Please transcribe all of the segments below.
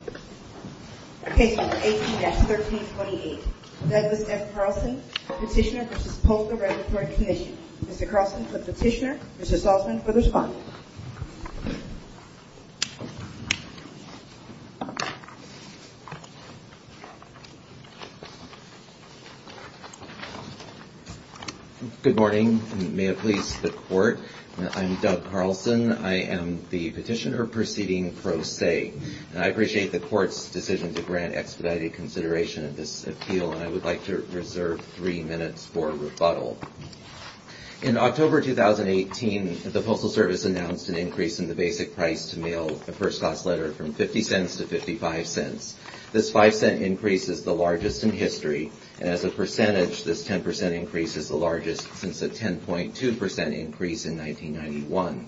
Good morning. May it please the court. I'm Doug Carlson. I am the petitioner proceeding pro se. And I appreciate the court's decision to grant expedited consideration of this appeal. And I would like to reserve three minutes for rebuttal. In October 2018, the Postal Service announced an increase in the basic price to mail a first class letter from 50 cents to 55 cents. This five cent increase is the largest in history. And as a percentage, this 10% increase is the largest since a 10.2% increase in 1991.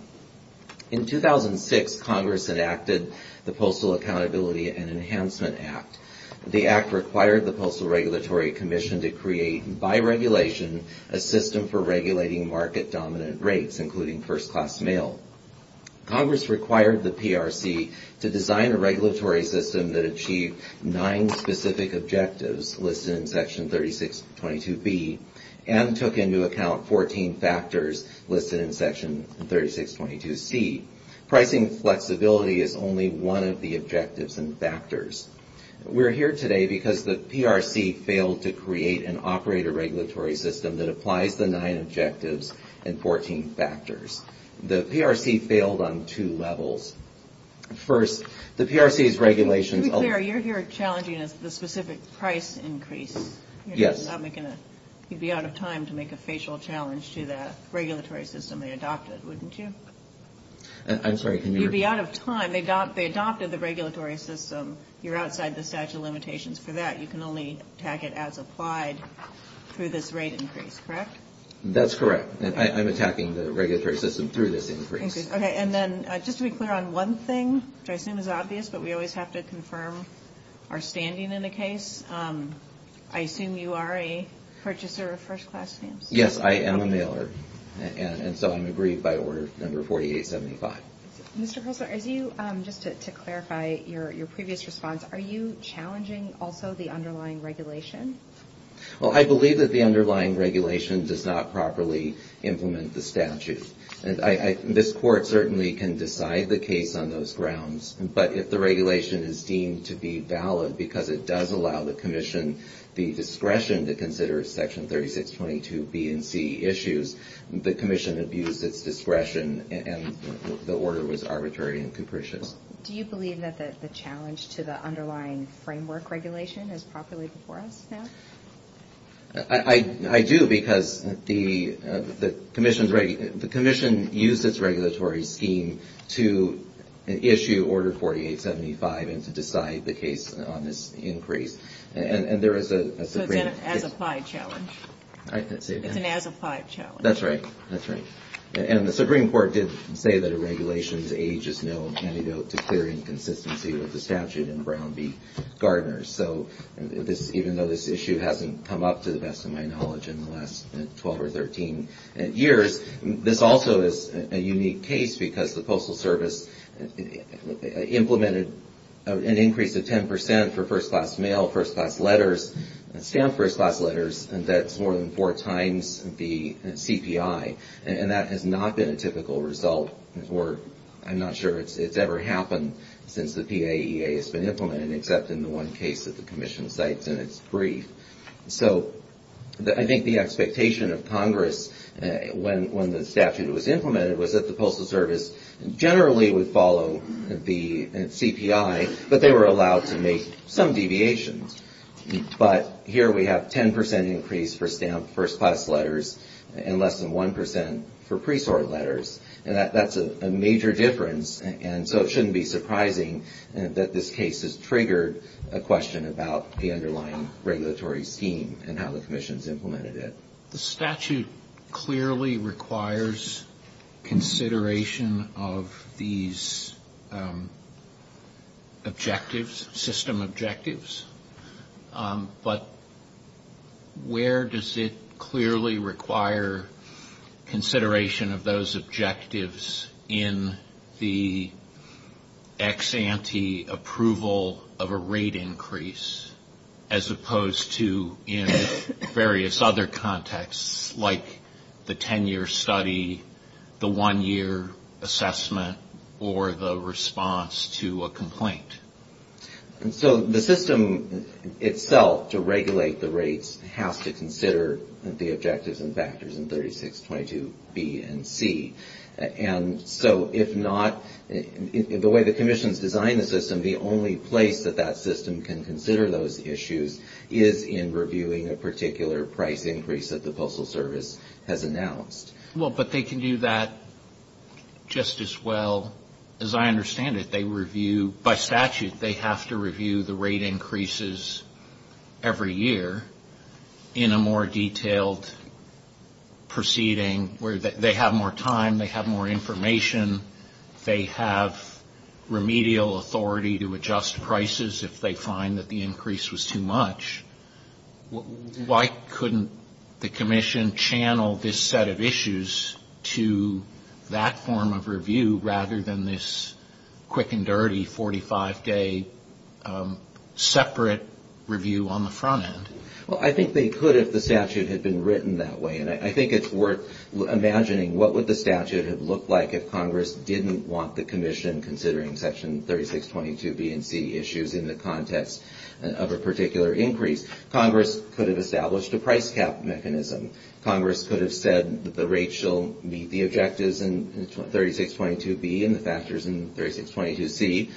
In 2006, Congress enacted the Postal Accountability and Enhancement Act. The act required the Postal Regulatory Commission to create, by regulation, a system for regulating market dominant rates, including first class mail. Congress required the PRC to design a regulatory system that achieved nine specific objectives listed in Section 3622B and took into account 14 factors listed in Section 3622C. Pricing flexibility is only one of the objectives and factors. We're here today because the PRC failed to create and operate a regulatory system that applies the nine objectives and 14 factors. The PRC failed on two levels. First, the PRC's regulations – You're challenging the specific price increase. You'd be out of time to make a facial challenge to the regulatory system they adopted, wouldn't you? I'm sorry, can you – You'd be out of time. They adopted the regulatory system. You're outside the statute of limitations for that. You can only attack it as applied through this rate increase, correct? That's correct. I'm attacking the regulatory system through this increase. Okay. And then, just to be clear on one thing, which I assume is obvious, but we always have to confirm our standing in the case, I assume you are a purchaser of first class stamps? Yes, I am a mailer. And so I'm aggrieved by order number 4875. Mr. Hulser, as you – just to clarify your previous response, are you challenging also the underlying regulation? Well, I believe that the underlying regulation does not properly implement the statute. This court certainly can decide the case on those grounds, but if the regulation is deemed to be in C issues, the commission abused its discretion and the order was arbitrary and capricious. Do you believe that the challenge to the underlying framework regulation is properly before us now? I do, because the commission used its regulatory scheme to issue order 4875 and to decide the case on this increase. And there is a – So it's an as-applied challenge? I can't say that. It's an as-applied challenge? That's right. That's right. And the Supreme Court did say that a regulation's age is no antidote to clear inconsistency with the statute in Brown v. Gardner. So even though this issue hasn't come up, to the best of my knowledge, in the last 12 or 13 years, this also is a unique case because the Postal Service implemented an increase of 10 percent for first-class mail, first-class letters, and stamp first-class letters. That's more than four times the CPI. And that has not been a typical result, or I'm not sure it's ever happened since the PAEA has been implemented, except in the one case that the commission cites in its brief. So I think the expectation of Congress when the statute was implemented was that the Postal Service would comply, but they were allowed to make some deviations. But here we have 10 percent increase for stamp first-class letters and less than 1 percent for pre-sort letters. And that's a major difference. And so it shouldn't be surprising that this case has triggered a question about the underlying regulatory scheme and how the commission's implemented it. The statute clearly requires consideration of these objectives, system objectives, but where does it clearly require consideration of those objectives in the ex ante approval of a rate increase as opposed to in various other contexts like the 10-year study, the one-year assessment, or the response to a complaint? And so the system itself to regulate the rates has to consider the objectives and factors in 3622B and C. And so if not, the way the commission's designed the system, the only place that that system can consider those issues is in reviewing a particular price increase that the Postal Service has announced. Well, but they can do that just as well, as I understand it. They review, by statute, they have to review the rate increases every year in a more detailed proceeding where they have more time, they have more information, they have remedial authority to adjust prices if they find that the increase was too much. Why couldn't the commission channel this set of issues to that form of review rather than this quick and dirty 45-day separate review on the front end? Well, I think they could if the statute had been written that way. And I think it's worth imagining what would the statute have looked like if Congress didn't want the commission considering Section 3622B and C issues in the context of a particular increase. Congress could have established a price cap mechanism. Congress could have said that the rate shall meet the objectives in 3622B and the factors in 3622C.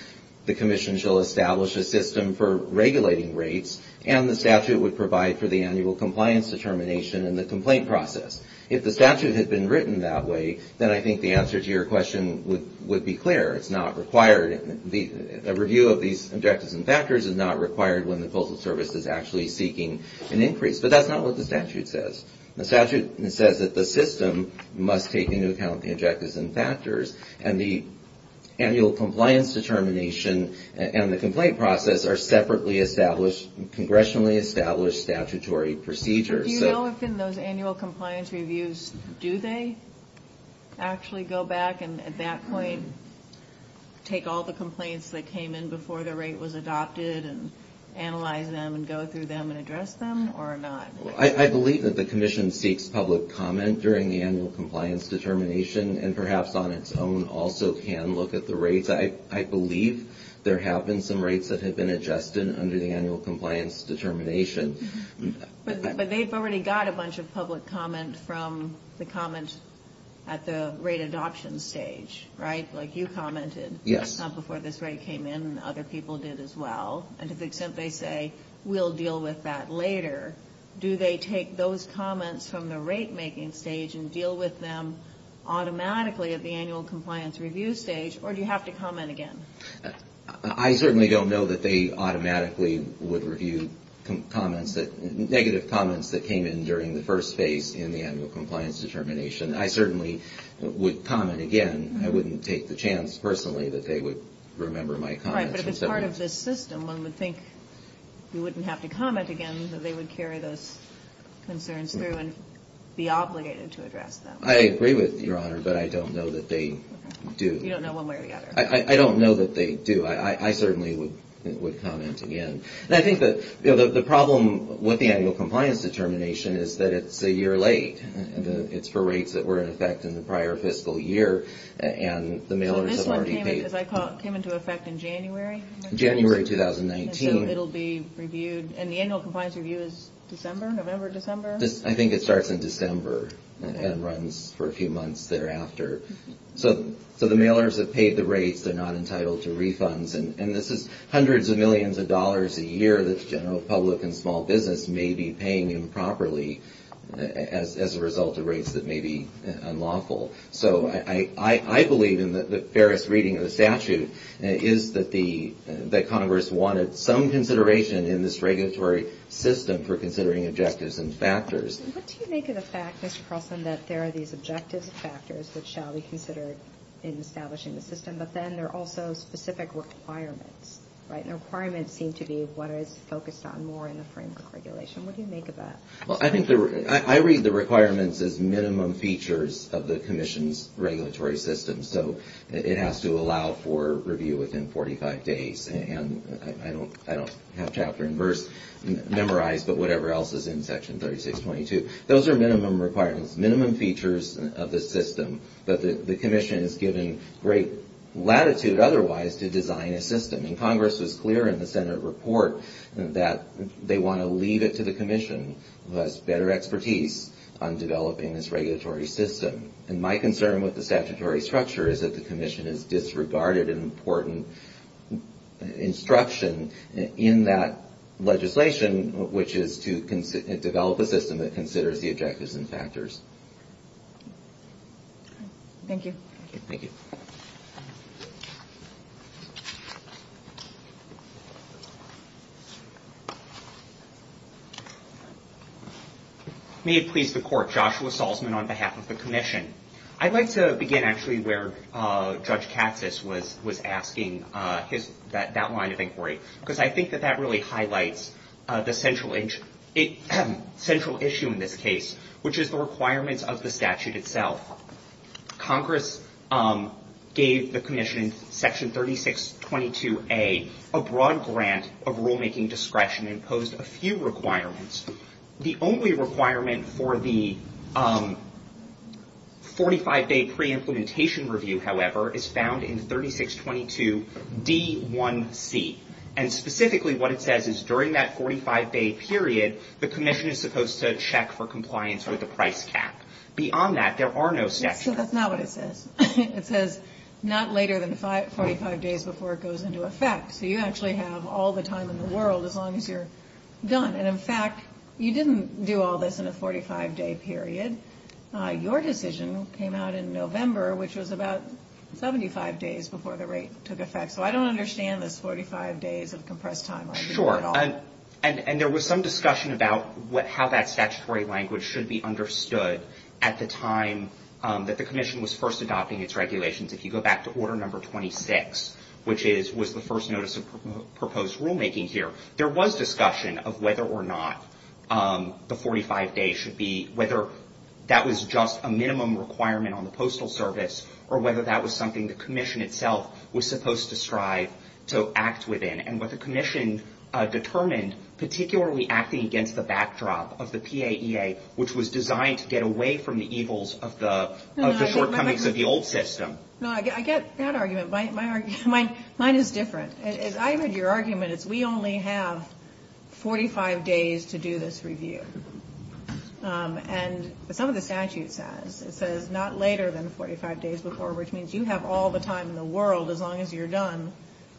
The commission shall establish a system for regulating rates, and the statute would provide for the annual compliance determination and the complaint process. If the statute had been written that way, then I think the answer to your question would be clear. It's not required. A review of these objectives and factors is not required when the Postal Service is actually seeking an increase. But that's not what the statute says. The statute says that the system must take into account the objectives and factors, and the annual compliance determination and the complaint process are separately established, congressionally established statutory procedures. Do you know if in those annual compliance reviews, do they actually go back and at that point take all the complaints that came in before the rate was adopted and analyze them and go through them and address them or not? I believe that the commission seeks public comment during the annual compliance determination and perhaps on its own also can look at the rates. I believe there have been some rates that have been adjusted under the annual compliance determination. But they've already got a bunch of public comment from the comment at the rate adoption stage, right? Like you commented before this rate came in and other people did as well. And to the extent they say, we'll deal with that later, do they take those comments from the rate making stage and deal with them automatically at the annual compliance review stage, or do you have to comment again? I certainly don't know that they automatically would review negative comments that came in during the first phase in the annual compliance determination. I certainly would comment again. I wouldn't take the chance personally that they would remember my comments. Right, but if it's part of this system, one would think you wouldn't have to comment again, that they would carry those concerns through and be obligated to address them. I agree with Your Honor, but I don't know that they do. You don't know one way or the other. I don't know that they do. I certainly would comment again. And I think that the problem with the annual compliance determination is that it's a year late. It's for rates that were in effect in the prior fiscal year. And the mailers have already paid. So this one came into effect in January? January 2019. So it'll be reviewed, and the annual compliance review is December, November, December? I think it starts in December and runs for a few months thereafter. So the mailers have paid the rates. They're not entitled to refunds. And this is hundreds of millions of dollars a year that the general public and small business may be paying improperly as a result of rates that may be unlawful. So I believe in the fairest reading of the statute is that Congress wanted some consideration in this regulatory system for considering objectives and factors. What do you make of the fact, Mr. Carlson, that there are these objectives and factors that shall be considered in establishing the system, but then there are also specific requirements, right? And requirements seem to be what is focused on more in the framework regulation. What do you make of that? Well, I think I read the requirements as minimum features of the commission's regulatory system. So it has to allow for review within 45 days. And I don't have chapter and verse memorized, but whatever else is in Section 3622. Those are minimum requirements, minimum features of the system. But the commission is given great latitude otherwise to design a system. And Congress was clear in the Senate report that they want to leave it to the commission who has better expertise on developing this regulatory system. And my concern with the statutory structure is that the commission has disregarded an important instruction in that legislation, which is to develop a system that considers the objectives and factors. Thank you. Thank you. May it please the court. Joshua Salzman on behalf of the commission. I'd like to begin actually where Judge Katsas was asking that line of inquiry. Because I think that that really highlights the central issue in this case, which is the requirements of the statute itself. Congress gave the commission, Section 3622A, a broad grant of rulemaking discretion and imposed a few requirements. The only requirement for the 45-day pre-implementation review, however, is found in 3622D1C. And specifically what it says is during that 45-day period, the commission is supposed to check for compliance with the price cap. Beyond that, there are no steps. So that's not what it says. It says not later than 45 days before it goes into effect. So you actually have all the time in the world as long as you're done. And in fact, you didn't do all this in a 45-day period. Your decision came out in November, which was about 75 days before the rate took effect. So I don't understand this 45 days of compressed time. Sure. And there was some discussion about how that statutory language should be understood at the time that the commission was first adopting its regulations. If you go back to order number 26, which was the first notice of proposed rulemaking here, there was discussion of whether or not the 45 days should be, whether that was just a minimum requirement on the Postal Service or whether that was something the commission itself was supposed to strive to act within. And what the commission determined, particularly acting against the backdrop of the PAEA, which was designed to get away from the evils of the shortcomings of the old system. No, I get that argument. My argument, mine is different. I heard your argument, it's we only have 45 days to do this review. And some of the statute says, it says not later than 45 days before, which means you have all the time in the world as long as you're done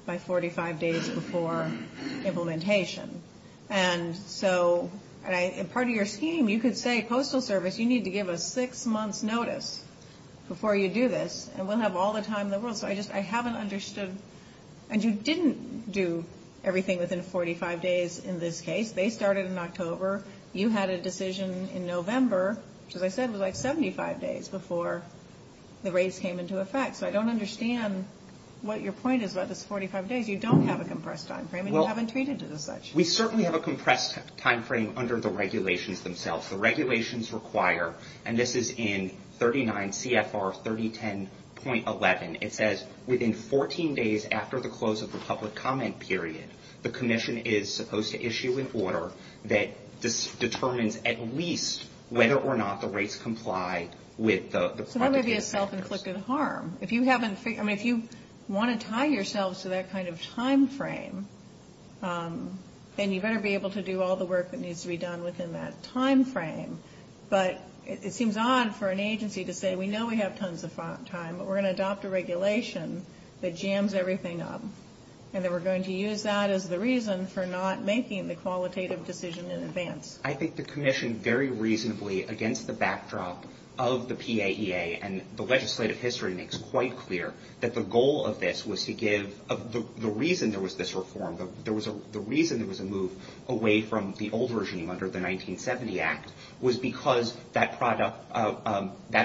by 45 days before implementation. And so part of your scheme, you could say, Postal Service, you need to give us six months' notice before you do this, and we'll have all the time in the world. So I just, I haven't understood, and you didn't do everything within 45 days in this case. They started in October. You had a decision in November, which as I said, was like 75 days before the rates came into effect. So I don't understand what your point is about this 45 days. You don't have a compressed time frame and you haven't treated it as such. We certainly have a compressed time frame under the regulations themselves. The regulations require, and this is in 39 CFR 3010.11. It says, within 14 days after the close of the public comment period, the commission is supposed to issue an order that determines at least whether or not the rates comply with the. So that may be a self-inflicted harm. If you haven't figured, I mean, if you want to tie yourselves to that kind of time frame, then you better be able to do all the work that needs to be done within that time frame. But it seems odd for an agency to say, we know we have tons of time, but we're going to adopt a regulation that jams everything up. And then we're going to use that as the reason for not making the qualitative decision in advance. I think the commission very reasonably against the backdrop of the PAEA and the legislative history makes quite clear that the goal of this was to give, the reason there was this reform, the reason there was a move away from the old regime under the 1970 Act was because that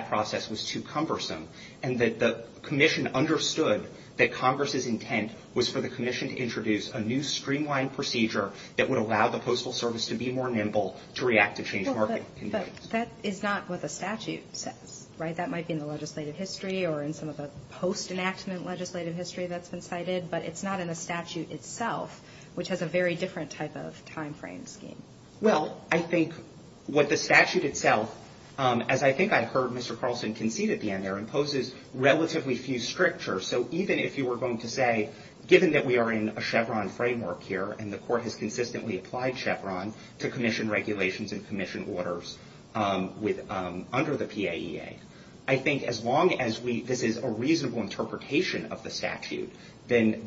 process was too cumbersome. And that the commission understood that Congress's intent was for the commission to introduce a new streamlined procedure that would allow the Postal Service to be more nimble to react to change market conditions. But that is not what the statute says, right? That might be in the legislative history or in some of the post-enactment legislative history that's been cited. But it's not in the statute itself, which has a very different type of time frame scheme. Well, I think what the statute itself, as I think I heard Mr. Carlson concede at the end there, imposes relatively few strictures. So even if you were going to say, given that we are in a Chevron framework here and the court has consistently applied Chevron to commission regulations and commission orders under the PAEA. I think as long as this is a reasonable interpretation of the statute, then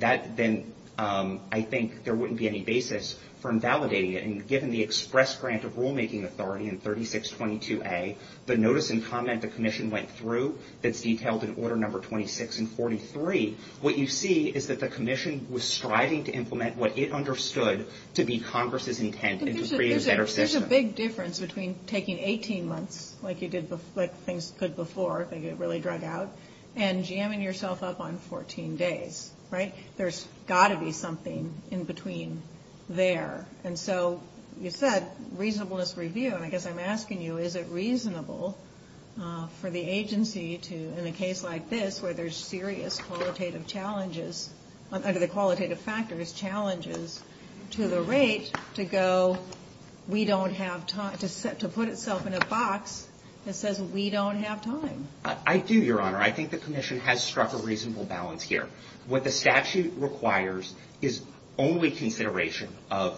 I think there wouldn't be any basis for invalidating it. And given the express grant of rulemaking authority in 3622A, the notice and comment that the commission went through that's detailed in order number 26 and 43, what you see is that the commission was striving to implement what it understood to be Congress's intent and to create a better system. There's a big difference between taking 18 months, like you did, like things could before, if they get really drug out, and jamming yourself up on 14 days, right? There's got to be something in between there. And so you said reasonableness review. And I guess I'm asking you, is it reasonable for the agency to, in a case like this, where there's serious qualitative challenges, under the qualitative factors, challenges to the rate to go, we don't have time, to put itself in a box that says we don't have time? I do, Your Honor. I think the commission has struck a reasonable balance here. What the statute requires is only consideration of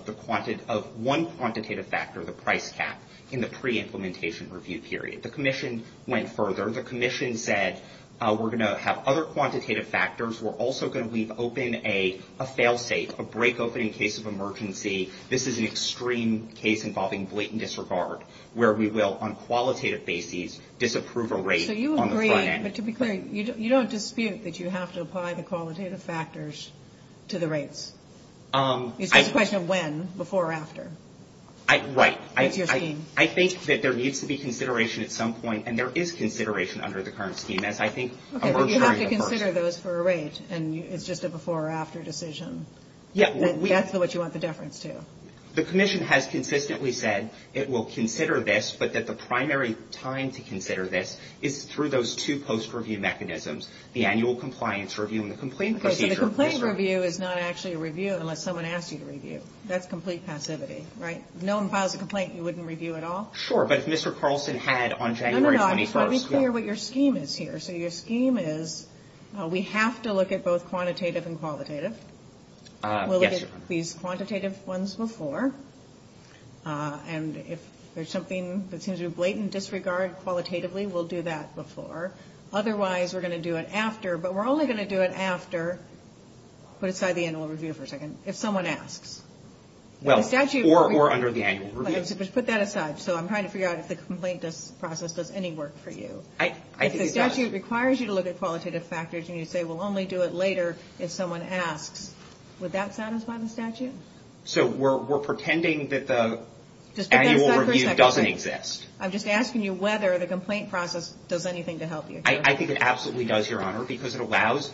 one quantitative factor, the price cap, in the pre-implementation review period. The commission went further. The commission said, we're going to have other quantitative factors. We're also going to leave open a fail-safe, a break-open in case of emergency. This is an extreme case involving blatant disregard, where we will, on qualitative bases, disapprove a rate on the front end. But to be clear, you don't dispute that you have to apply the qualitative factors to the rates? It's just a question of when, before or after? Right. It's your scheme. I think that there needs to be consideration at some point, and there is consideration under the current scheme, as I think a merger is a first. Okay, but you have to consider those for a rate, and it's just a before or after decision? Yeah. That's what you want the deference to? The commission has consistently said it will consider this, but that the primary time to consider this is through those two post-review mechanisms, the annual compliance review and the complaint procedure. Okay, so the complaint review is not actually a review unless someone asks you to review. That's complete passivity, right? If no one files a complaint, you wouldn't review at all? Sure, but if Mr. Carlson had on January 21st... No, no, no. Let me clear what your scheme is here. So your scheme is we have to look at both quantitative and qualitative. Yes, Your Honor. We'll look at these quantitative ones before, and if there's something that seems to be a blatant disregard qualitatively, we'll do that before. Otherwise, we're going to do it after, but we're only going to do it after. Put aside the annual review for a second. If someone asks. Well, or under the annual review. Put that aside. So I'm trying to figure out if the complaint process does any work for you. I think it does. If the statute requires you to look at qualitative factors, and you say we'll only do it later if someone asks, would that satisfy the statute? So we're pretending that the annual review doesn't exist. I'm just asking you whether the complaint process does anything to help you. I think it absolutely does, Your Honor, because it allows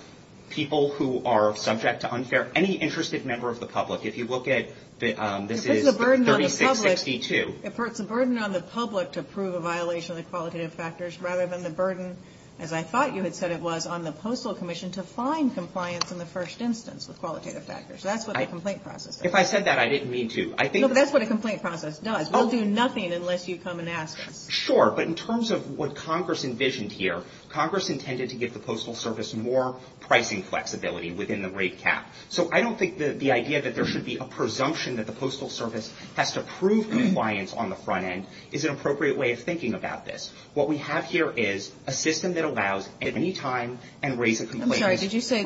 people who are subject to unfair... If you look at, this is 3662. It puts a burden on the public to prove a violation of the qualitative factors rather than the burden, as I thought you had said it was, on the Postal Commission to find compliance in the first instance with qualitative factors. That's what the complaint process does. If I said that, I didn't mean to. No, but that's what a complaint process does. We'll do nothing unless you come and ask us. Sure, but in terms of what Congress envisioned here, Congress intended to give the Postal Service more pricing flexibility within the rate cap. So I don't think the idea that there should be a presumption that the Postal Service has to prove compliance on the front end is an appropriate way of thinking about this. What we have here is a system that allows at any time and raises complaints... I'm sorry, did you say...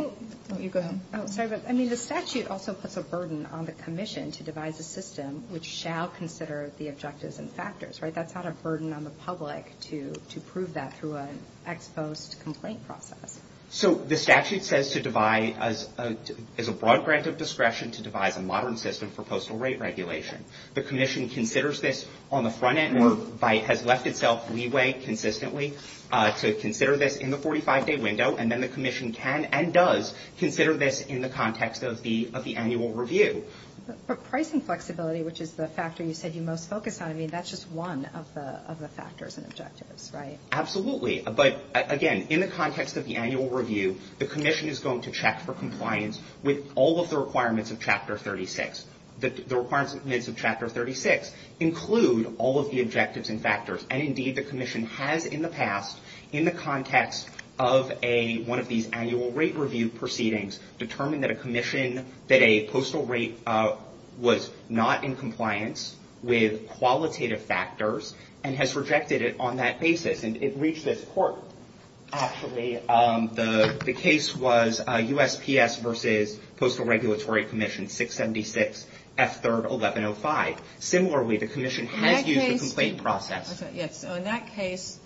Oh, you go ahead. Oh, sorry. I mean, the statute also puts a burden on the Commission to devise a system which shall consider the objectives and factors, right? That's not a burden on the public to prove that through an ex post complaint process. So the statute says to devise as a broad grant of discretion to devise a modern system for postal rate regulation. The Commission considers this on the front end or has left itself leeway consistently to consider this in the 45-day window, and then the Commission can and does consider this in the context of the annual review. But pricing flexibility, which is the factor you said you most focus on, I mean, that's just one of the factors and objectives, right? Absolutely. But again, in the context of the annual review, the Commission is going to check for compliance with all of the requirements of Chapter 36. The requirements of Chapter 36 include all of the objectives and factors. And indeed, the Commission has in the past, in the context of one of these annual rate review proceedings, determined that a commission... that a postal rate was not in compliance with qualitative factors and has rejected it on that basis. And it reached this court, actually. The case was USPS versus Postal Regulatory Commission, 676 F3-1105. Similarly, the Commission has used the complaint process. So in that case,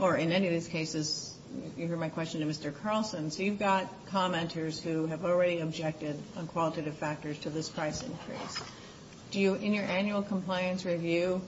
or in any of these cases, you heard my question to Mr. Carlson, so you've got commenters who have already objected on qualitative factors to this price increase. Do you, in your annual compliance review,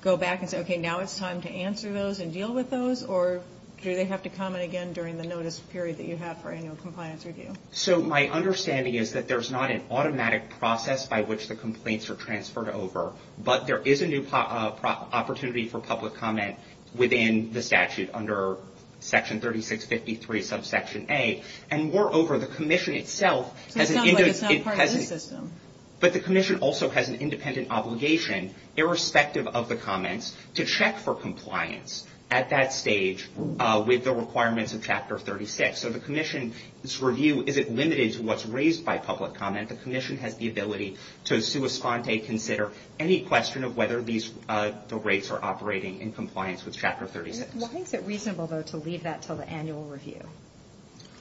go back and say, okay, now it's time to answer those and deal with those, or do they have to comment again during the notice period that you have for annual compliance review? So my understanding is that there's not an automatic process by which the complaints are transferred over, but there is a new opportunity for public comment within the statute under Section 3653, subsection A. And moreover, the Commission itself... It sounds like it's not part of the system. But the Commission also has an independent obligation, irrespective of the comments, to check for compliance at that stage with the requirements of Chapter 36. So the Commission's review isn't limited to what's raised by public comment. The Commission has the ability to sua sponte consider any question of whether the rates are operating in compliance with Chapter 36. Why is it reasonable, though, to leave that until the annual review,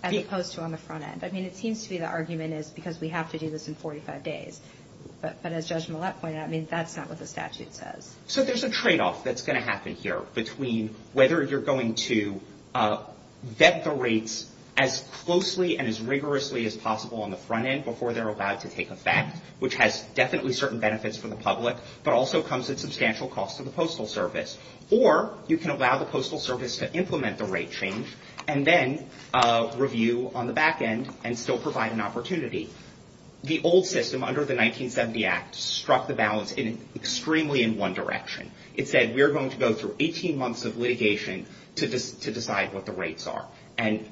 as opposed to on the front end? I mean, it seems to be the argument is, because we have to do this in 45 days. But as Judge Millett pointed out, I mean, that's not what the statute says. So there's a trade-off that's going to happen here between whether you're going to vet the rates as closely and as rigorously as possible on the front end before they're allowed to take effect, which has definitely certain benefits for the public, but also comes at substantial cost to the Postal Service. Or you can allow the Postal Service to implement the rate change, and then review on the back end, and still provide an opportunity. The old system under the 1970 Act struck the balance extremely in one direction. It said, we're going to go through 18 months of litigation to decide what the rates are. And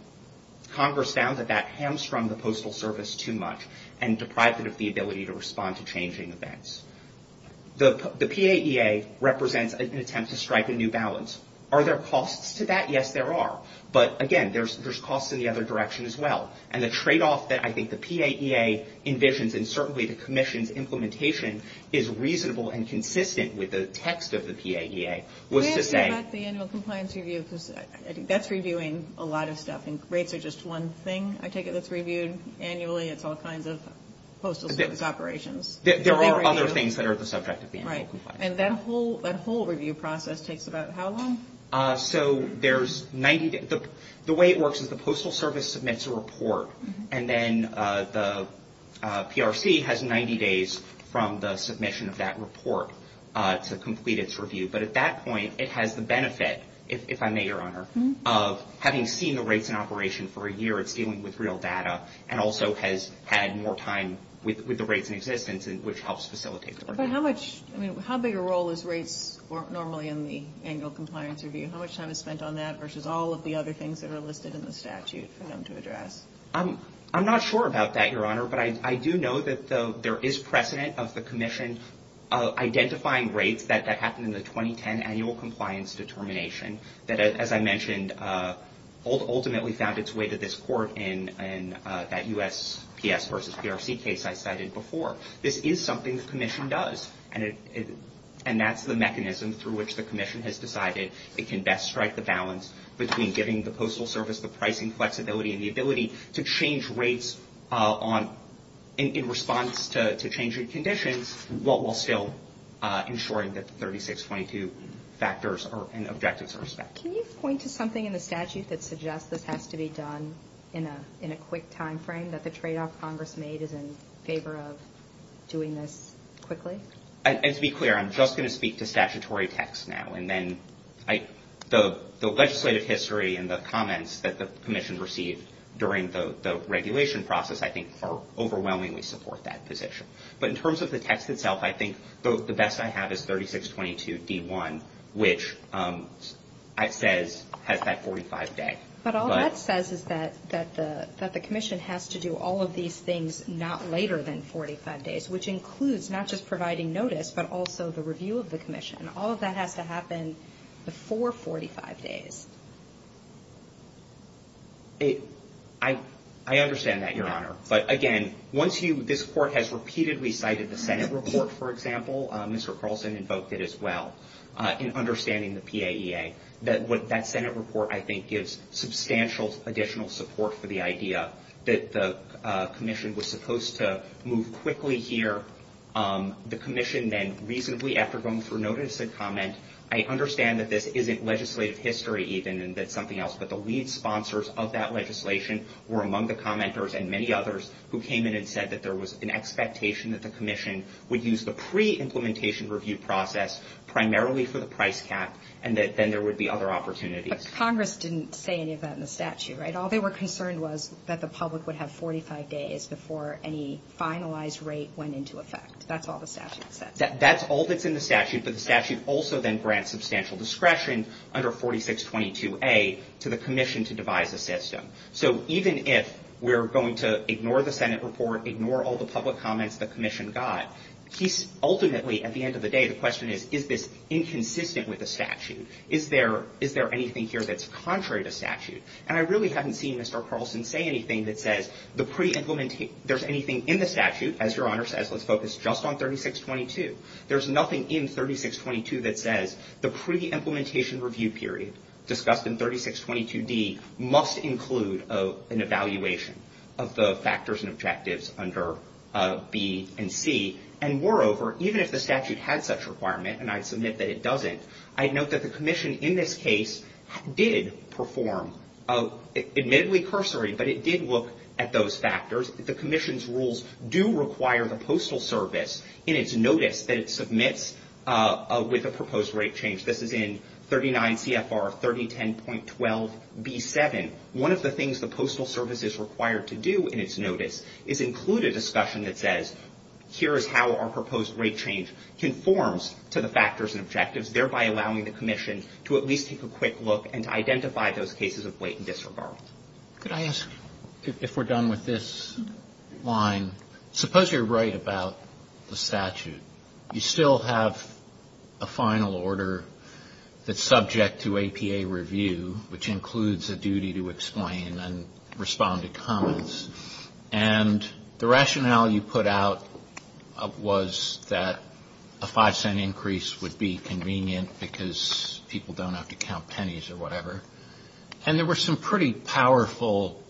Congress found that that hamstrung the Postal Service too much, and deprived it of the ability to respond to changing events. The PAEA represents an attempt to strike a new balance. Are there costs to that? Yes, there are. But again, there's costs in the other direction as well. And the trade-off that I think the PAEA envisions, and certainly the Commission's implementation, is reasonable and consistent with the text of the PAEA, was to say... Can I ask you about the annual compliance review? Because that's reviewing a lot of stuff. And rates are just one thing, I take it, that's reviewed annually. It's all kinds of Postal Service operations. There are other things that are the subject of the annual compliance review. And that whole review process takes about how long? So there's 90... The way it works is the Postal Service submits a report, and then the PRC has 90 days from the submission of that report to complete its review. But at that point, it has the benefit, if I may, Your Honor, of having seen the rates in operation for a year, it's dealing with real data, and also has had more time with the rates in existence, which helps facilitate the review. But how much... How big a role is rates normally in the annual compliance review? How much time is spent on that versus all of the other things that are listed in the statute for them to address? I'm not sure about that, Your Honor, but I do know that there is precedent of the Commission identifying rates that happened in the 2010 annual compliance determination, that, as I mentioned, ultimately found its way to this Court in that USPS versus PRC case I cited before. This is something the Commission does, and that's the mechanism through which the Commission has decided it can best strike the balance between giving the Postal Service the pricing flexibility and the ability to change rates in response to changing conditions, while still ensuring that the 3622 factors and objectives are respected. Can you point to something in the statute that suggests this has to be done in a quick time frame, that the tradeoff Congress made is in favor of doing this quickly? And to be clear, I'm just going to speak to statutory text now, and then the legislative history and the comments that the Commission received during the regulation process I think overwhelmingly support that position. But in terms of the text itself, I think the best I have is 3622 D1, which it says has that 45 day. But all that says is that the Commission has to do all of these things not later than 45 days, which includes not just providing notice, but also the review of the Commission. All of that has to happen before 45 days. I understand that, Your Honor. But again, once this Court has repeatedly cited the Senate report, for example, Mr. Carlson invoked it as well, in understanding the PAEA, that Senate report gives substantial additional support for the idea that the Commission was supposed to move quickly here. The Commission then, recently after going through notice and comment, I understand that this isn't legislative history even and that's something else, but the lead sponsors of that legislation were among the commenters and many others who came in and said that there was an expectation that the Commission would use the pre-implementation review process primarily for the price cap, and that then there would be other opportunities. But Congress didn't say any of that in the statute, right? All they were concerned was that the public would have 45 days before any finalized rate went into effect. That's all the statute said. That's all that's in the statute, but the statute also then grants substantial discretion under 4622A to the Commission to devise a system. So even if we're going to ignore the Senate report, ignore all the public comments the Commission got, ultimately, at the end of the day, the question is, is this inconsistent with the statute? Is there anything here that's contrary to statute? And I really haven't seen Mr. Carlson say anything that says there's anything in the statute, as Your Honor says, let's focus just on 3622. There's nothing in 3622 that says the pre-implementation review period discussed in 3622D must include an evaluation of the factors and objectives under B and C, and moreover, even if the statute had such a requirement, and I'd submit that it doesn't, I'd note that the Commission in this case did perform admittedly cursory, but it did look at those factors. The Commission's rules do require the Postal Service in its notice that it submits with a proposed rate change. This is in 39 CFR 3010.12 B7. One of the things the Postal Service is required to do in its notice is include a discussion that says, here is how our proposed rate change conforms to the factors and objectives, thereby allowing the Commission to at least take a quick look and identify those cases of weight and disregard. Could I ask if we're done with this line, suppose you're right about the statute. You still have a final order that's subject to APA review, which includes a duty to explain and respond to comments, and the rationale you put out was that a 5 cent increase would be convenient because people don't have to count pennies or whatever. And there were some pretty powerful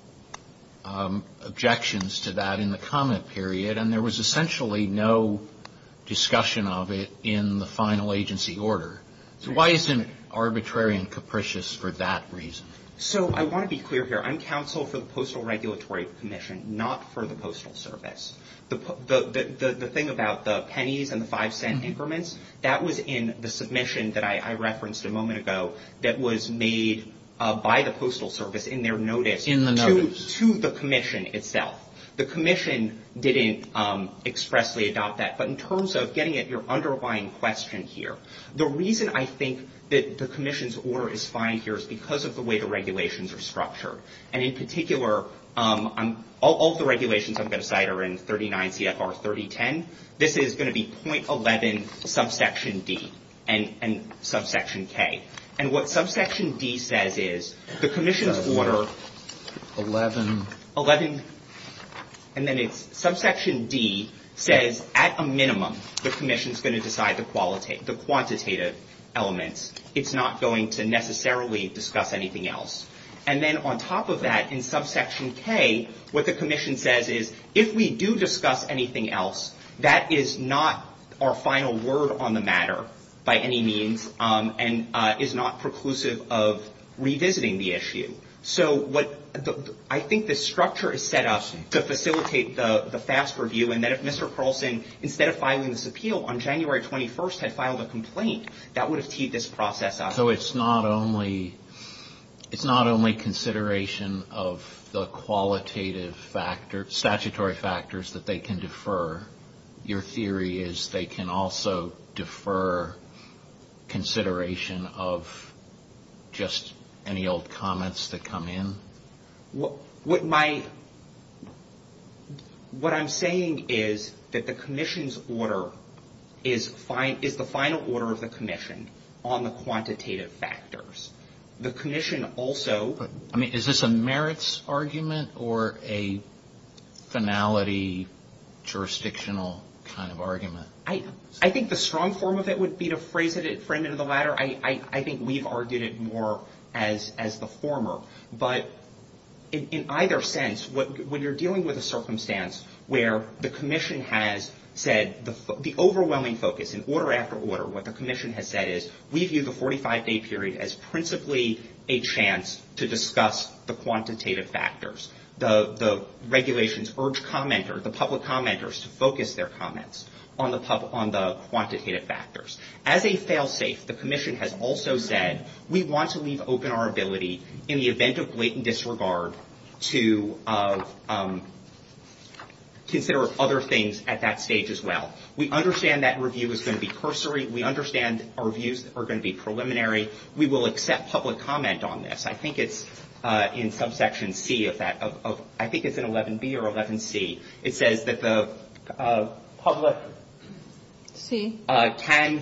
objections to that in the comment period, and there was essentially no discussion of it in the final agency order. So why isn't it arbitrary and capricious for that reason? So I want to be clear here. I'm counsel for the Postal Regulatory Commission, not for the Postal Service. The thing about the pennies and the 5 cent increments, that was in the submission that I referenced a moment ago that was made by the Postal Service in their notice to the Commission itself. The Commission didn't expressly adopt that, but in terms of getting at your underlying question here, the reason I think that the Commission's order is fine here is because of the way the regulations are structured. And in all the regulations I'm going to cite are in 39 CFR 3010. This is going to be .11 subsection D and subsection K. And what subsection D says is the Commission's order... 11... Subsection D says at a minimum the Commission is going to decide the quantitative elements. It's not going to necessarily discuss anything else. And then on top of that in subsection K, what the Commission says is if we do discuss anything else, that is not our final word on the matter by any means and is not preclusive of revisiting the issue. So I think the structure is set up to facilitate the fast review and that if Mr. Carlson, instead of filing this appeal on January 21st, had filed a complaint, that would have teed this process up. So it's not only consideration of the qualitative statutory factors that they can defer. Your theory is they can also defer consideration of just any old comments that come in? What my... What I'm saying is that the Commission's order is the final order of the Commission on the quantitative factors. The Commission also... Is this a merits argument or a finality, jurisdictional kind of argument? I think the strong form of it would be to frame it in the latter. I think we've argued it more as the former. But in either sense, when you're dealing with a circumstance where the Commission has said the overwhelming focus in order after order, what the Commission has said is we view the 45-day period as principally a chance to discuss the quantitative factors. The regulations urge the public commenters to focus their comments on the quantitative factors. As a fail-safe, the Commission has also said we want to leave open our ability in the event of blatant disregard to consider other things at that stage as well. We understand that review is going to be preliminary. We will accept public comment on this. I think it's in subsection C of that. I think it's in 11B or 11C. It says that the public can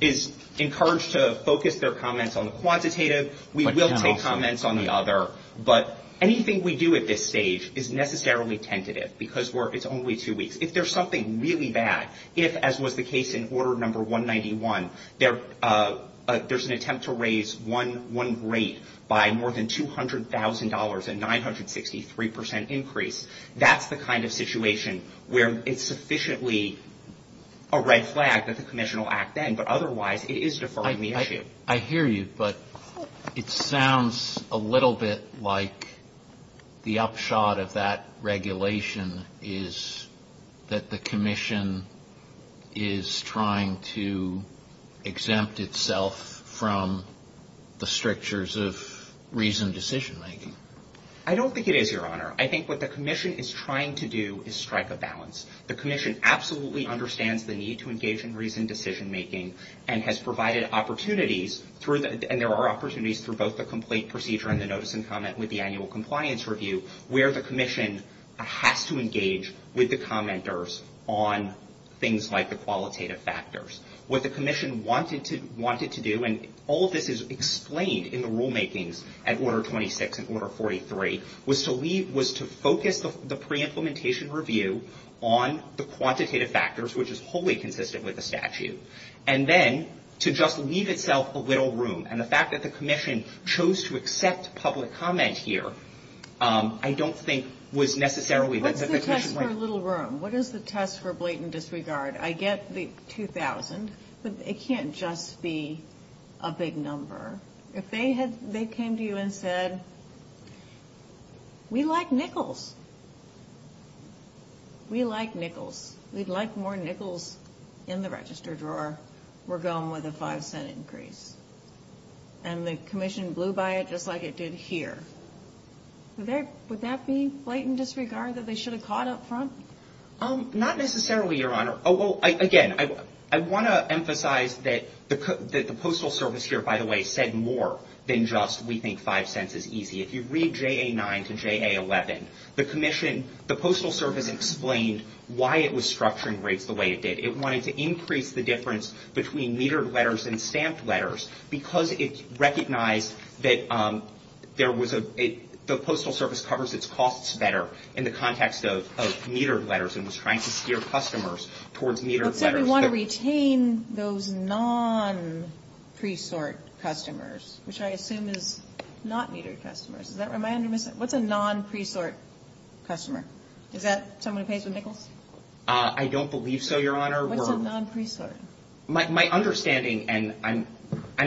is encouraged to focus their comments on the quantitative. We will take comments on the other. But anything we do at this stage is necessarily tentative because it's only two weeks. If there's something really bad, if, as was the case in Order 191, there's an attempt to raise one rate by more than $200,000, a 963% increase, that's the kind of situation where it's sufficiently a red flag that the Commission will act then. Otherwise, it is deferring the issue. I hear you, but it sounds a little bit like the upshot of that regulation is that the Commission is trying to exempt itself from the strictures of reasoned decision-making. I don't think it is, Your Honor. I think what the Commission is trying to do is strike a balance. The Commission absolutely understands the need to engage in reasoned decision-making and has provided opportunities, and there are opportunities through both the complaint procedure and the notice and comment with the Annual Compliance Review, where the Commission has to engage with the commenters on things like the qualitative factors. What the Commission wanted to do, and all of this is explained in the rulemakings at Order 26 and Order 43, was to leave, was to focus the pre-implementation review on the quantitative factors, which is wholly consistent with the statute, and then to just leave itself a little room. And the fact that the Commission chose to accept public comment here, I don't think was necessarily the intention. Leave her a little room. What is the test for blatant disregard? I get the 2,000, but it can't just be a big number. If they came to you and said, we like nickels. We like nickels. We'd like more nickels in the register drawer. We're going with a five-cent increase. And the Commission blew by it, just like it did here. Would that be something to be caught up from? Not necessarily, Your Honor. Again, I want to emphasize that the Postal Service here, by the way, said more than just, we think five cents is easy. If you read JA-9 to JA-11, the Commission, the Postal Service explained why it was structuring rates the way it did. It wanted to increase the difference between metered letters and stamped letters because it recognized that the Postal Service covers its costs better in the context of metered letters and was trying to steer customers towards metered letters. Except we want to retain those non-pre-sort customers, which I assume is not metered customers. What's a non-pre-sort customer? Is that someone who pays with nickels? I don't believe so, Your Honor. What's a non-pre-sort? My understanding, and I'm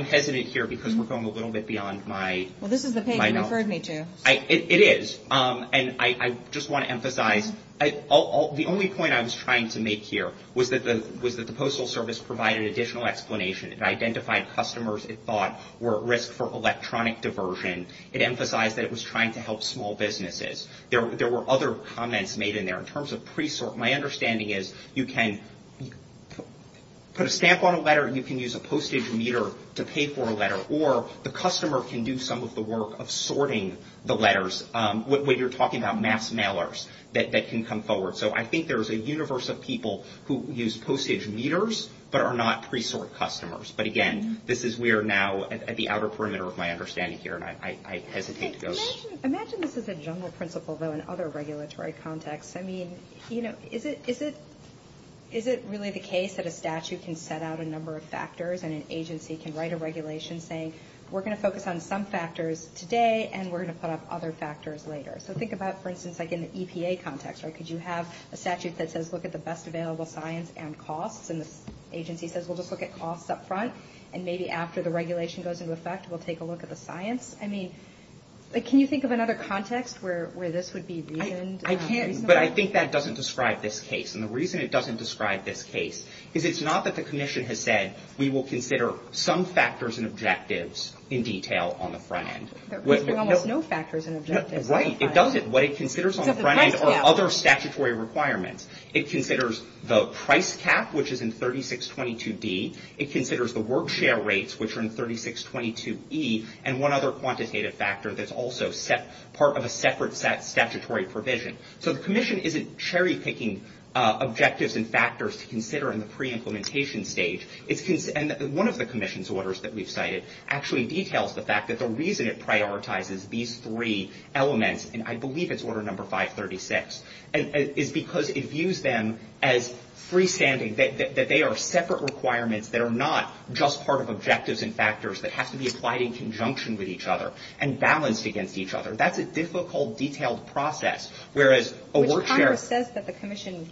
hesitant here because we're going a little bit beyond my knowledge. Well, this is the page you referred me to. It is. And I just want to emphasize, the only point I was trying to make here was that the Postal Service provided an additional explanation. It identified customers it thought were at risk for electronic diversion. It emphasized that it was trying to help small businesses. There were other comments made in there. In terms of pre-sort, my understanding is you can put a stamp on a letter, you can use a postage meter to pay for a letter or the customer can do some of the work of sorting the letters when you're talking about mass mailers that can come forward. So I think there's a universe of people who use postage meters but are not pre-sort customers. But again, we are now at the outer perimeter of my understanding here and I hesitate to go. Imagine this is a general principle though in other regulatory contexts. I mean, you know, is it really the case that a statute can set out a number of factors and an agency can write a regulation saying we're going to focus on some factors today and we're going to put up other factors later. So think about, for instance, like in the EPA context, right, could you have a statute that says look at the best available science and costs and the agency says we'll just look at costs up front and maybe after the regulation goes into effect we'll take a look at the science. I mean, can you think of another context where this would be reasoned reasonably? But I think that doesn't describe this case. And the reason it doesn't describe this case is it's not that the commission has said we will consider some factors and objectives in detail on the front end. There are almost no factors and objectives. Right, it doesn't. What it considers on the front end are other statutory requirements. It considers the price cap which is in 3622D. It considers the work share rates which are in 3622E and one other quantitative factor that's also part of a separate statutory provision. So the commission isn't cherry picking objectives and factors to consider in the pre-implementation stage. And one of the commission's orders that we've cited actually details the fact that the reason it prioritizes these three elements and I believe it's order number 536 is because it views them as freestanding, that they are separate requirements that are not just part of objectives and factors that have to be applied in conjunction with each other and balanced against each other. That's a difficult detailed process whereas a work share... It prioritizes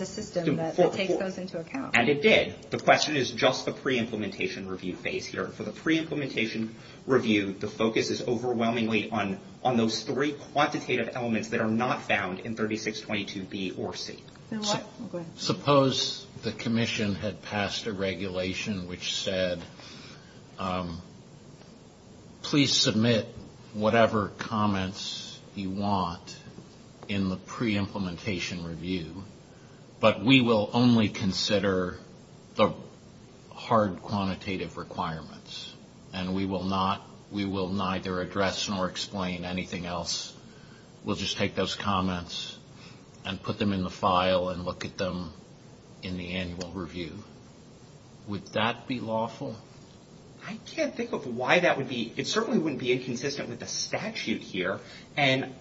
a system that takes those into account. And it did. The question is just the pre-implementation review phase here. For the pre-implementation review, the focus is overwhelmingly on those three quantitative elements that are not found in 3622B or C. Suppose the commission had passed a regulation which said please submit whatever comments you want in the pre-implementation review but we will only consider the hard quantitative requirements and we will neither address nor explain anything else. We'll just take those comments and put them in the file and look at them in the annual review. Would that be lawful? I can't think of why that would be... It certainly wouldn't be inconsistent with the statute here and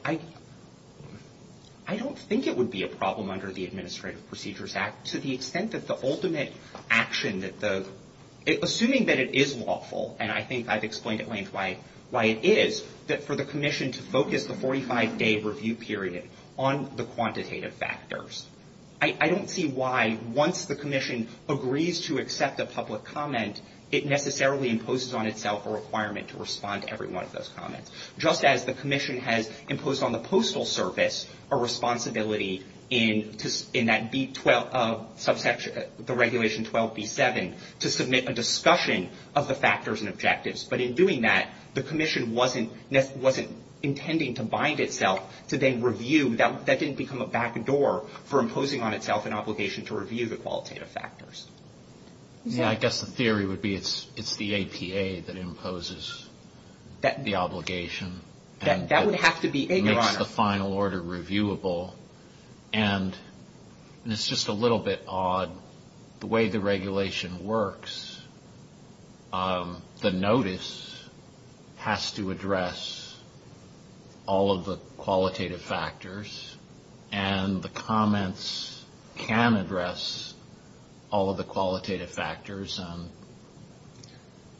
I don't think it would be a problem under the Administrative Procedures Act to the extent that the ultimate action that the... Assuming that it is lawful and I think I've explained at length why it is, that for the commission to focus the 45 day review period on the quantitative factors. I don't see why once the commission agrees to accept a public comment it necessarily imposes on itself a requirement to respond to every one of those comments. Just as the commission has imposed on the Postal Service a responsibility in that B12 subsection the regulation 12B7 to submit a discussion of the factors and objectives. But in doing that the commission wasn't intending to bind itself to then review. That didn't become a back door for imposing on itself an obligation to review the qualitative factors. I guess the theory would be it's the APA that had the obligation. That would have to be... It makes the final order reviewable. It's just a little bit odd. The way the regulation works the notice has to address all of the qualitative factors and the comments can address all of the qualitative factors.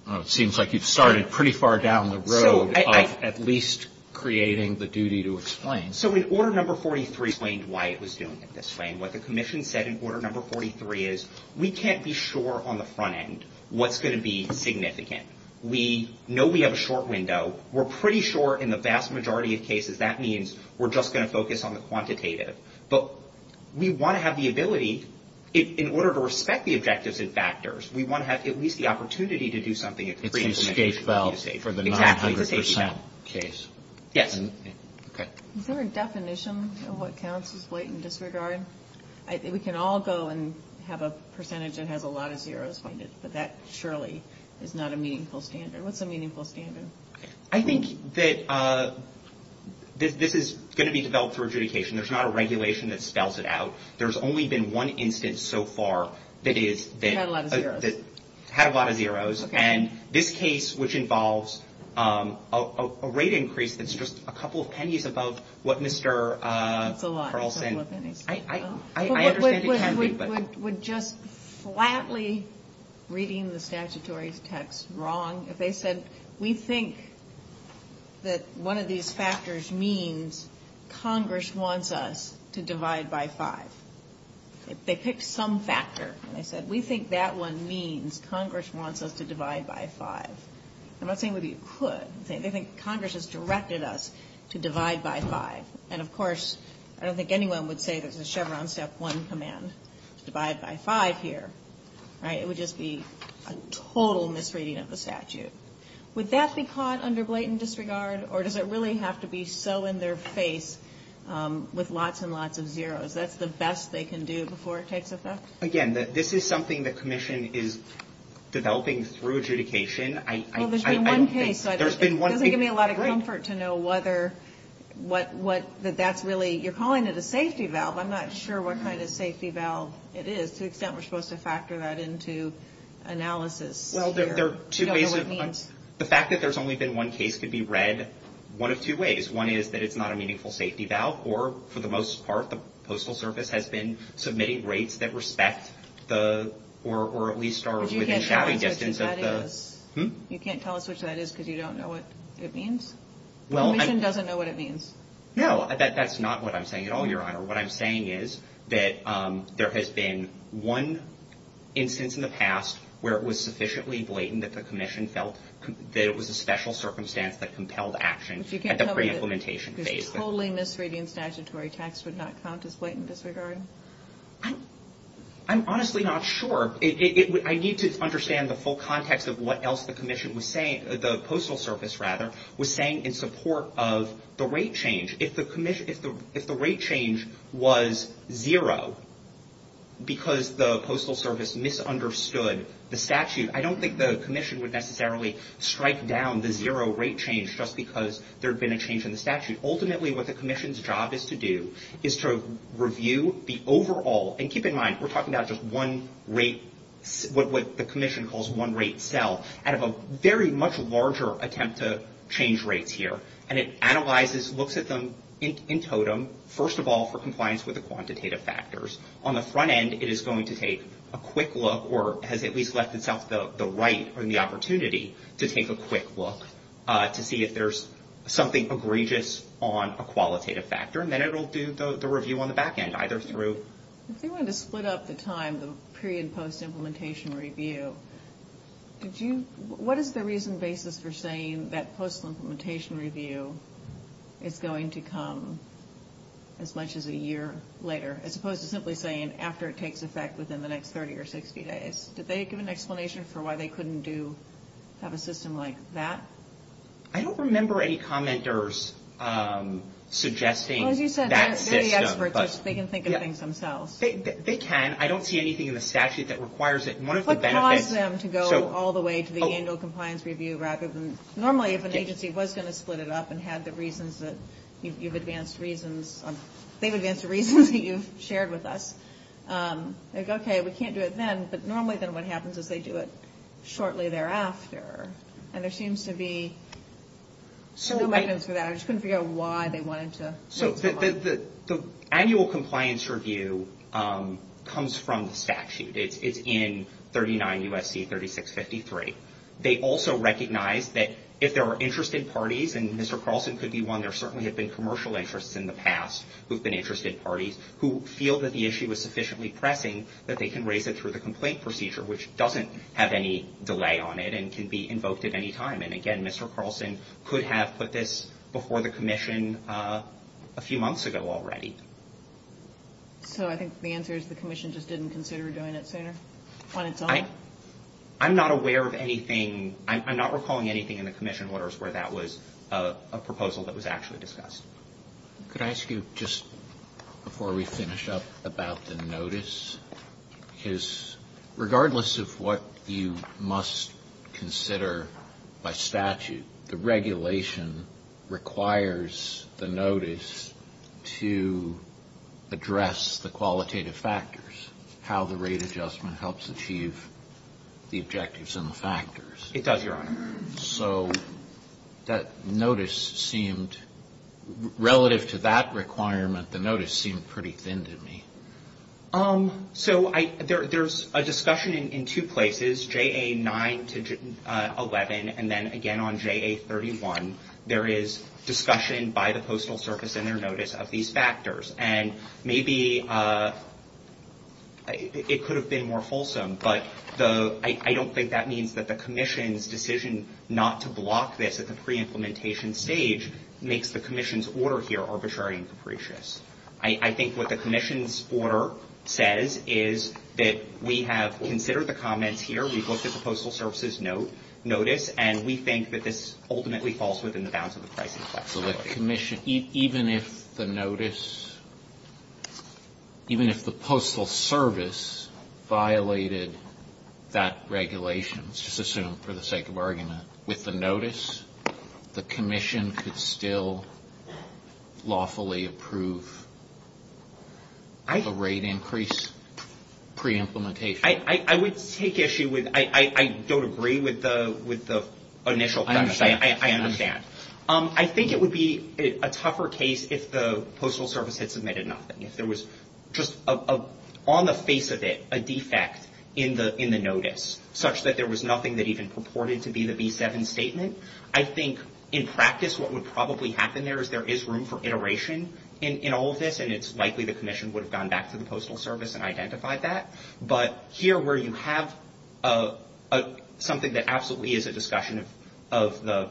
It seems like you've started pretty far down the road of at least creating the duty to explain. So in order number 43 what the commission said in order number 43 is we can't be sure on the front end what's going to be significant. We know we have a short window. We're pretty sure in the vast majority of cases that means we're just going to focus on the quantitative. But we want to have the ability in order to respect the objectives and factors we want to have at least the opportunity to do something. It's an escape valve for the 900% case. Is there a definition of what counts as blatant disregard? We can all go and have a percentage that has a lot of zeros but that surely is not a meaningful standard. What's a meaningful standard? I think that this is going to be developed through adjudication. There's not a regulation that spells it out. There's only been one instance so far that had a lot of zeros. And this case which involves a rate increase that's just a couple of pennies above what Mr. Carlson... Would just flatly reading the statutory text wrong if they said we think that one of these factors means Congress wants us to divide by five. They picked some factor and they said we think that one means Congress wants us to divide by five. I'm not saying we could. They think Congress has directed us to divide by five. And of course I don't think anyone would say there's a Chevron step one command to divide by five here. It would just be a total misreading of the statute. Would that be caught under blatant disregard or does it really have to be so in their face with lots and lots of zeros? That's the best they can do before it takes effect? Again, this is something the commission is developing through adjudication. There's been one case... It doesn't give me a lot of comfort to know whether that that's really... You're calling it a safety valve. I'm not sure what kind of safety valve it is to the extent we're supposed to factor that into analysis. The fact that there's only been one case could be read one of two ways. One is that it's not a meaningful safety valve or for the most part the Postal Service has been submitting rates that respect or at least are within shouting distance of the... You can't tell us which that is because you don't know what it means? The commission doesn't know what it means. No, that's not what I'm saying at all, Your Honor. What I'm saying is that there has been one instance in the past where it was sufficiently blatant that the commission felt that it was a special circumstance that compelled action at the pre-implementation phase. Totally misreading statutory tax would not count as blatant disregard? I'm honestly not sure. I need to understand the full context of what else the Postal Service was saying in support of the rate change. If the rate change was zero because the Postal Service misunderstood the statute, I don't think the commission would necessarily strike down the zero rate change just because there had been a change in the statute. Ultimately what the commission's job is to do is to review the overall and keep in mind we're talking about just one rate, what the commission calls one rate cell, out of a very much larger attempt to change rates here. And it analyzes looks at them in totem first of all for compliance with the quantitative factors. On the front end it is going to take a quick look or has at least left itself the right or the opportunity to take a quick look to see if there's something egregious on a qualitative factor. And then it will do the review on the back end either through... If they wanted to split up the time, the period post-implementation review what is the reason basis for saying that post-implementation review is going to come as much as a year later as opposed to simply saying after it takes effect within the next 30 or 60 days? Did they give an explanation for why they couldn't have a system like that? I don't remember any commenters suggesting that system. They're the experts. They can think of things themselves. They can. I don't see anything in the statute that requires it. What caused them to go all the way to the annual compliance review rather than... Normally if an agency was going to split it up and had the reasons that you've advanced reasons, they've advanced the reasons that you've shared with us Okay, we can't do it then but normally then what happens is they do it shortly thereafter. And there seems to be some evidence for that. I just couldn't figure out why they wanted to wait so long. The annual compliance review comes from the statute. It's in 39 U.S.C. 3653. They also recognize that if there are interested parties, and Mr. Carlson could be one, there certainly have been commercial interests in the past who've been interested parties who feel that the issue is sufficiently pressing that they can raise it through the complaint procedure which doesn't have any delay on it and can be invoked at any time. And again, Mr. Carlson could have put this before the commission a few months ago already. So I think the answer is the commission just didn't consider doing it sooner on its own? I'm not aware of anything I'm not recalling anything in the commission letters where that was a proposal that was actually discussed. Could I ask you just before we finish up about the notice? Because regardless of what you must consider by statute, the regulation requires the notice to address the qualitative factors, how the rate adjustment helps achieve the objectives and the factors. It does, Your Honor. So that notice seemed, relative to that requirement, the notice seemed pretty thin to me. So there's a discussion in two places, JA 9 to 11 and then again on JA 31 there is discussion by the Postal Service and their notice of these factors. And maybe it could have been more wholesome, but I don't think that means that the commission's decision not to change makes the commission's order here arbitrary and capricious. I think what the commission's order says is that we have considered the comments here, we've looked at the Postal Service's notice, and we think that this ultimately falls within the bounds of the pricing flexibility. So the commission, even if the notice, even if the Postal Service violated that regulation, just assume for the sake of argument, with the notice, the commission could still lawfully approve a rate increase pre-implementation. I would take issue with, I don't agree with the initial I understand. I think it would be a tougher case if the Postal Service had submitted nothing. If there was just on the face of it, a defect in the notice, such that there was nothing that even purported to be the B7 statement, I think in practice, what would probably happen there is there is room for iteration in all of this, and it's likely the commission would have gone back to the Postal Service and identified that. But here, where you have something that absolutely is a discussion of the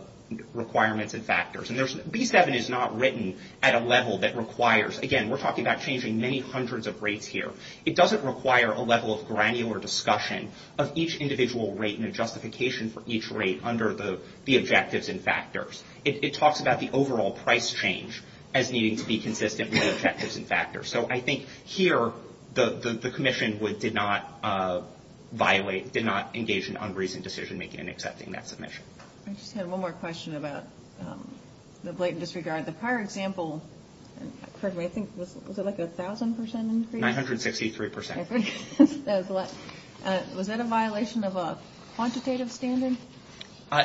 requirements and factors, B7 is not written at a level that requires, again, we're talking about changing many hundreds of rates here. It doesn't require a level of granular discussion of each individual rate and a justification for each rate under the objectives and factors. It talks about the overall price change as needing to be consistent with objectives and factors. So I think here, the commission did not engage in unreasoned decision-making in accepting that submission. I just had one more question about the blatant disregard. The prior example I think, was it like a 1,000% increase? 963%. Was that a violation of a quantitative standard?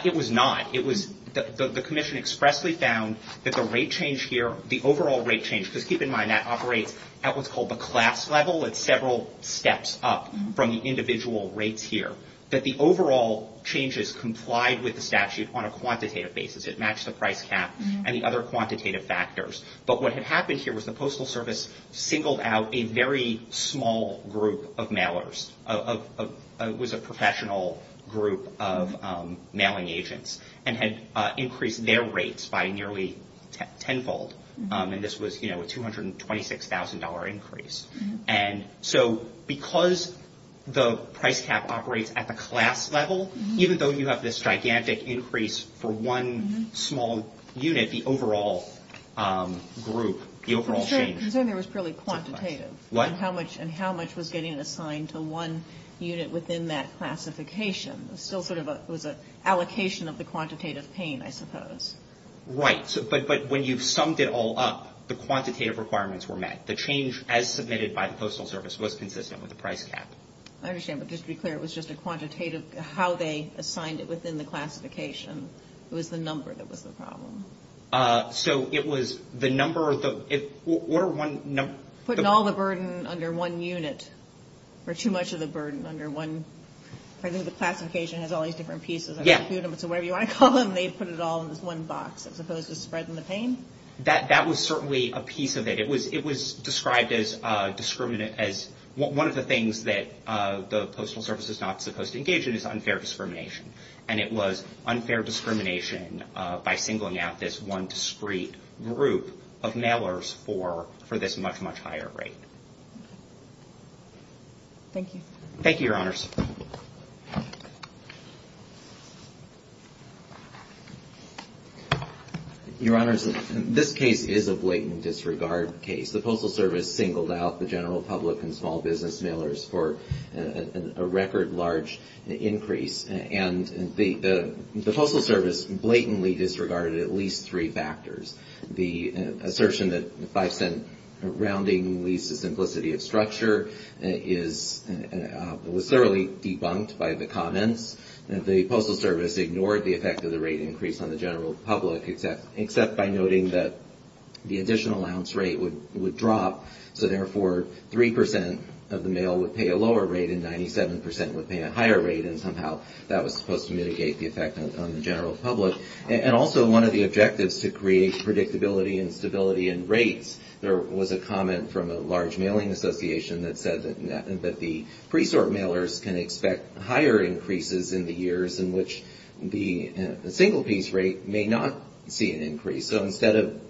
It was not. The commission expressly found that the rate change here, the overall rate change, because keep in mind that operates at what's called the class level at several steps up from the individual rates here, that the overall changes complied with the statute on a quantitative basis. It matched the price cap and the other quantitative factors. But what had happened here was the Postal Service was a very small group of mailers. It was a professional group of mailing agents and had increased their rates by nearly tenfold. This was a $226,000 increase. So because the price cap operates at the class level, even though you have this gigantic increase for one small unit, the overall group, the overall concern there was purely quantitative and how much was getting assigned to one unit within that classification. It was still sort of an allocation of the quantitative pain, I suppose. But when you've summed it all up, the quantitative requirements were met. The change as submitted by the Postal Service was consistent with the price cap. I understand, but just to be clear, it was just a quantitative how they assigned it within the classification. It was the number that was the problem. So it was the number... Putting all the burden under one unit, or too much of the burden under one... I think the classification has all these different pieces. So whatever you want to call them, they put it all in this one box, as opposed to spreading the pain. That was certainly a piece of it. It was described as one of the things that the Postal Service is not supposed to engage in is unfair discrimination. And it was unfair discrimination by singling out this one discrete group of mailers for this much, much higher rate. Thank you. Thank you, Your Honors. Your Honors, this case is a blatant disregard case. The Postal Service singled out the general public and small business mailers for a record large increase. And the Postal Service blatantly disregarded at least three factors. The assertion that 5-cent rounding leads to simplicity of structure was thoroughly debunked by the comments. The Postal Service ignored the effect of the rate increase on the general public, except by noting that the additional allowance rate would drop. So therefore, 3% of the mail would pay a lower rate, and 97% would pay a higher rate, and somehow that was supposed to mitigate the effect on the general public. And also, one of the objectives to create predictability and stability in rates, there was a comment from a large mailing association that said that the pre-sort mailers can expect higher increases in the years in which the single-piece rate may not see an increase. So instead of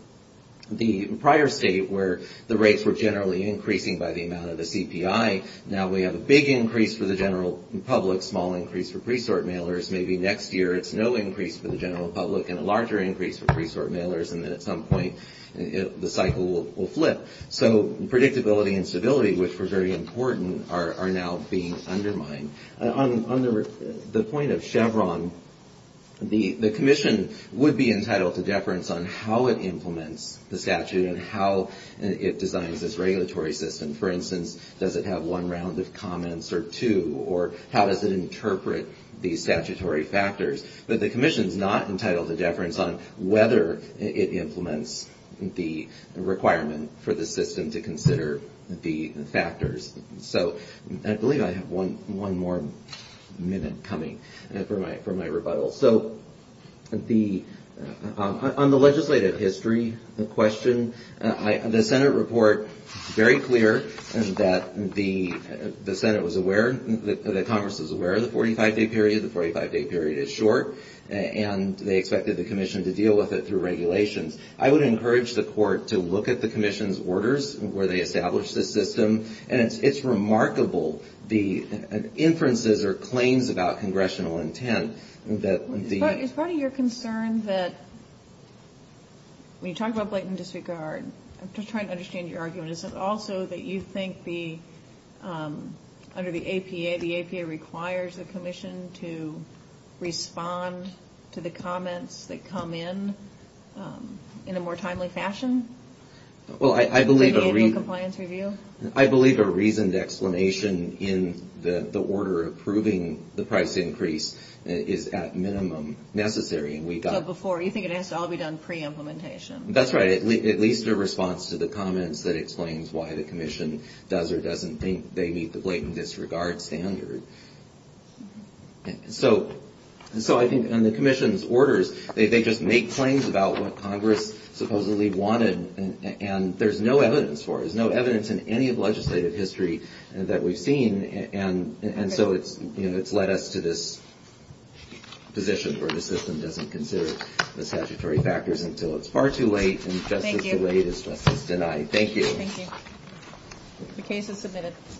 the prior state where the rates were generally increasing by the amount of the CPI, now we have a big increase for the general public, small increase for pre-sort mailers, maybe next year it's no increase for the general public, and a larger increase for pre-sort mailers, and then at some point the cycle will flip. So predictability and stability, which were very important, are now being undermined. On the point of Chevron, the commission would be entitled to deference on how it implements the statute and how it designs its regulatory system. For instance, does it have one round of comments or two, or how does it interpret the statutory factors? But the commission is not entitled to deference on whether it implements the requirement for the system to consider the factors. So, I believe I have one more minute coming for my rebuttal. So, on the legislative history question, the Senate report is very clear that the Senate was aware, that Congress was aware of the 45-day period, the 45-day period is short, and they expected the commission to deal with it through regulations. I would encourage the court to look at the commission's orders, where they established this system, and it's remarkable the inferences or claims about congressional intent that the... Is part of your concern that when you talk about blatant disregard, I'm just trying to understand your argument, is it also that you think the... Under the APA, the APA requires the commission to respond to the comments that come in in a more timely fashion? Well, I believe... I believe a reasoned explanation in the order approving the price increase is at minimum necessary. So before, you think it has to all be done pre-implementation? That's right. At least a response to the comments that explains why the commission does or doesn't think they meet the blatant disregard standard. So I think on the commission's orders, they just make claims about what Congress supposedly wanted, and there's no evidence for it. There's no evidence in any of legislative history that we've seen, and so it's led us to this position where the system doesn't consider the statutory factors until it's far too late, and justice delayed is justice denied. Thank you. Thank you. The case is submitted.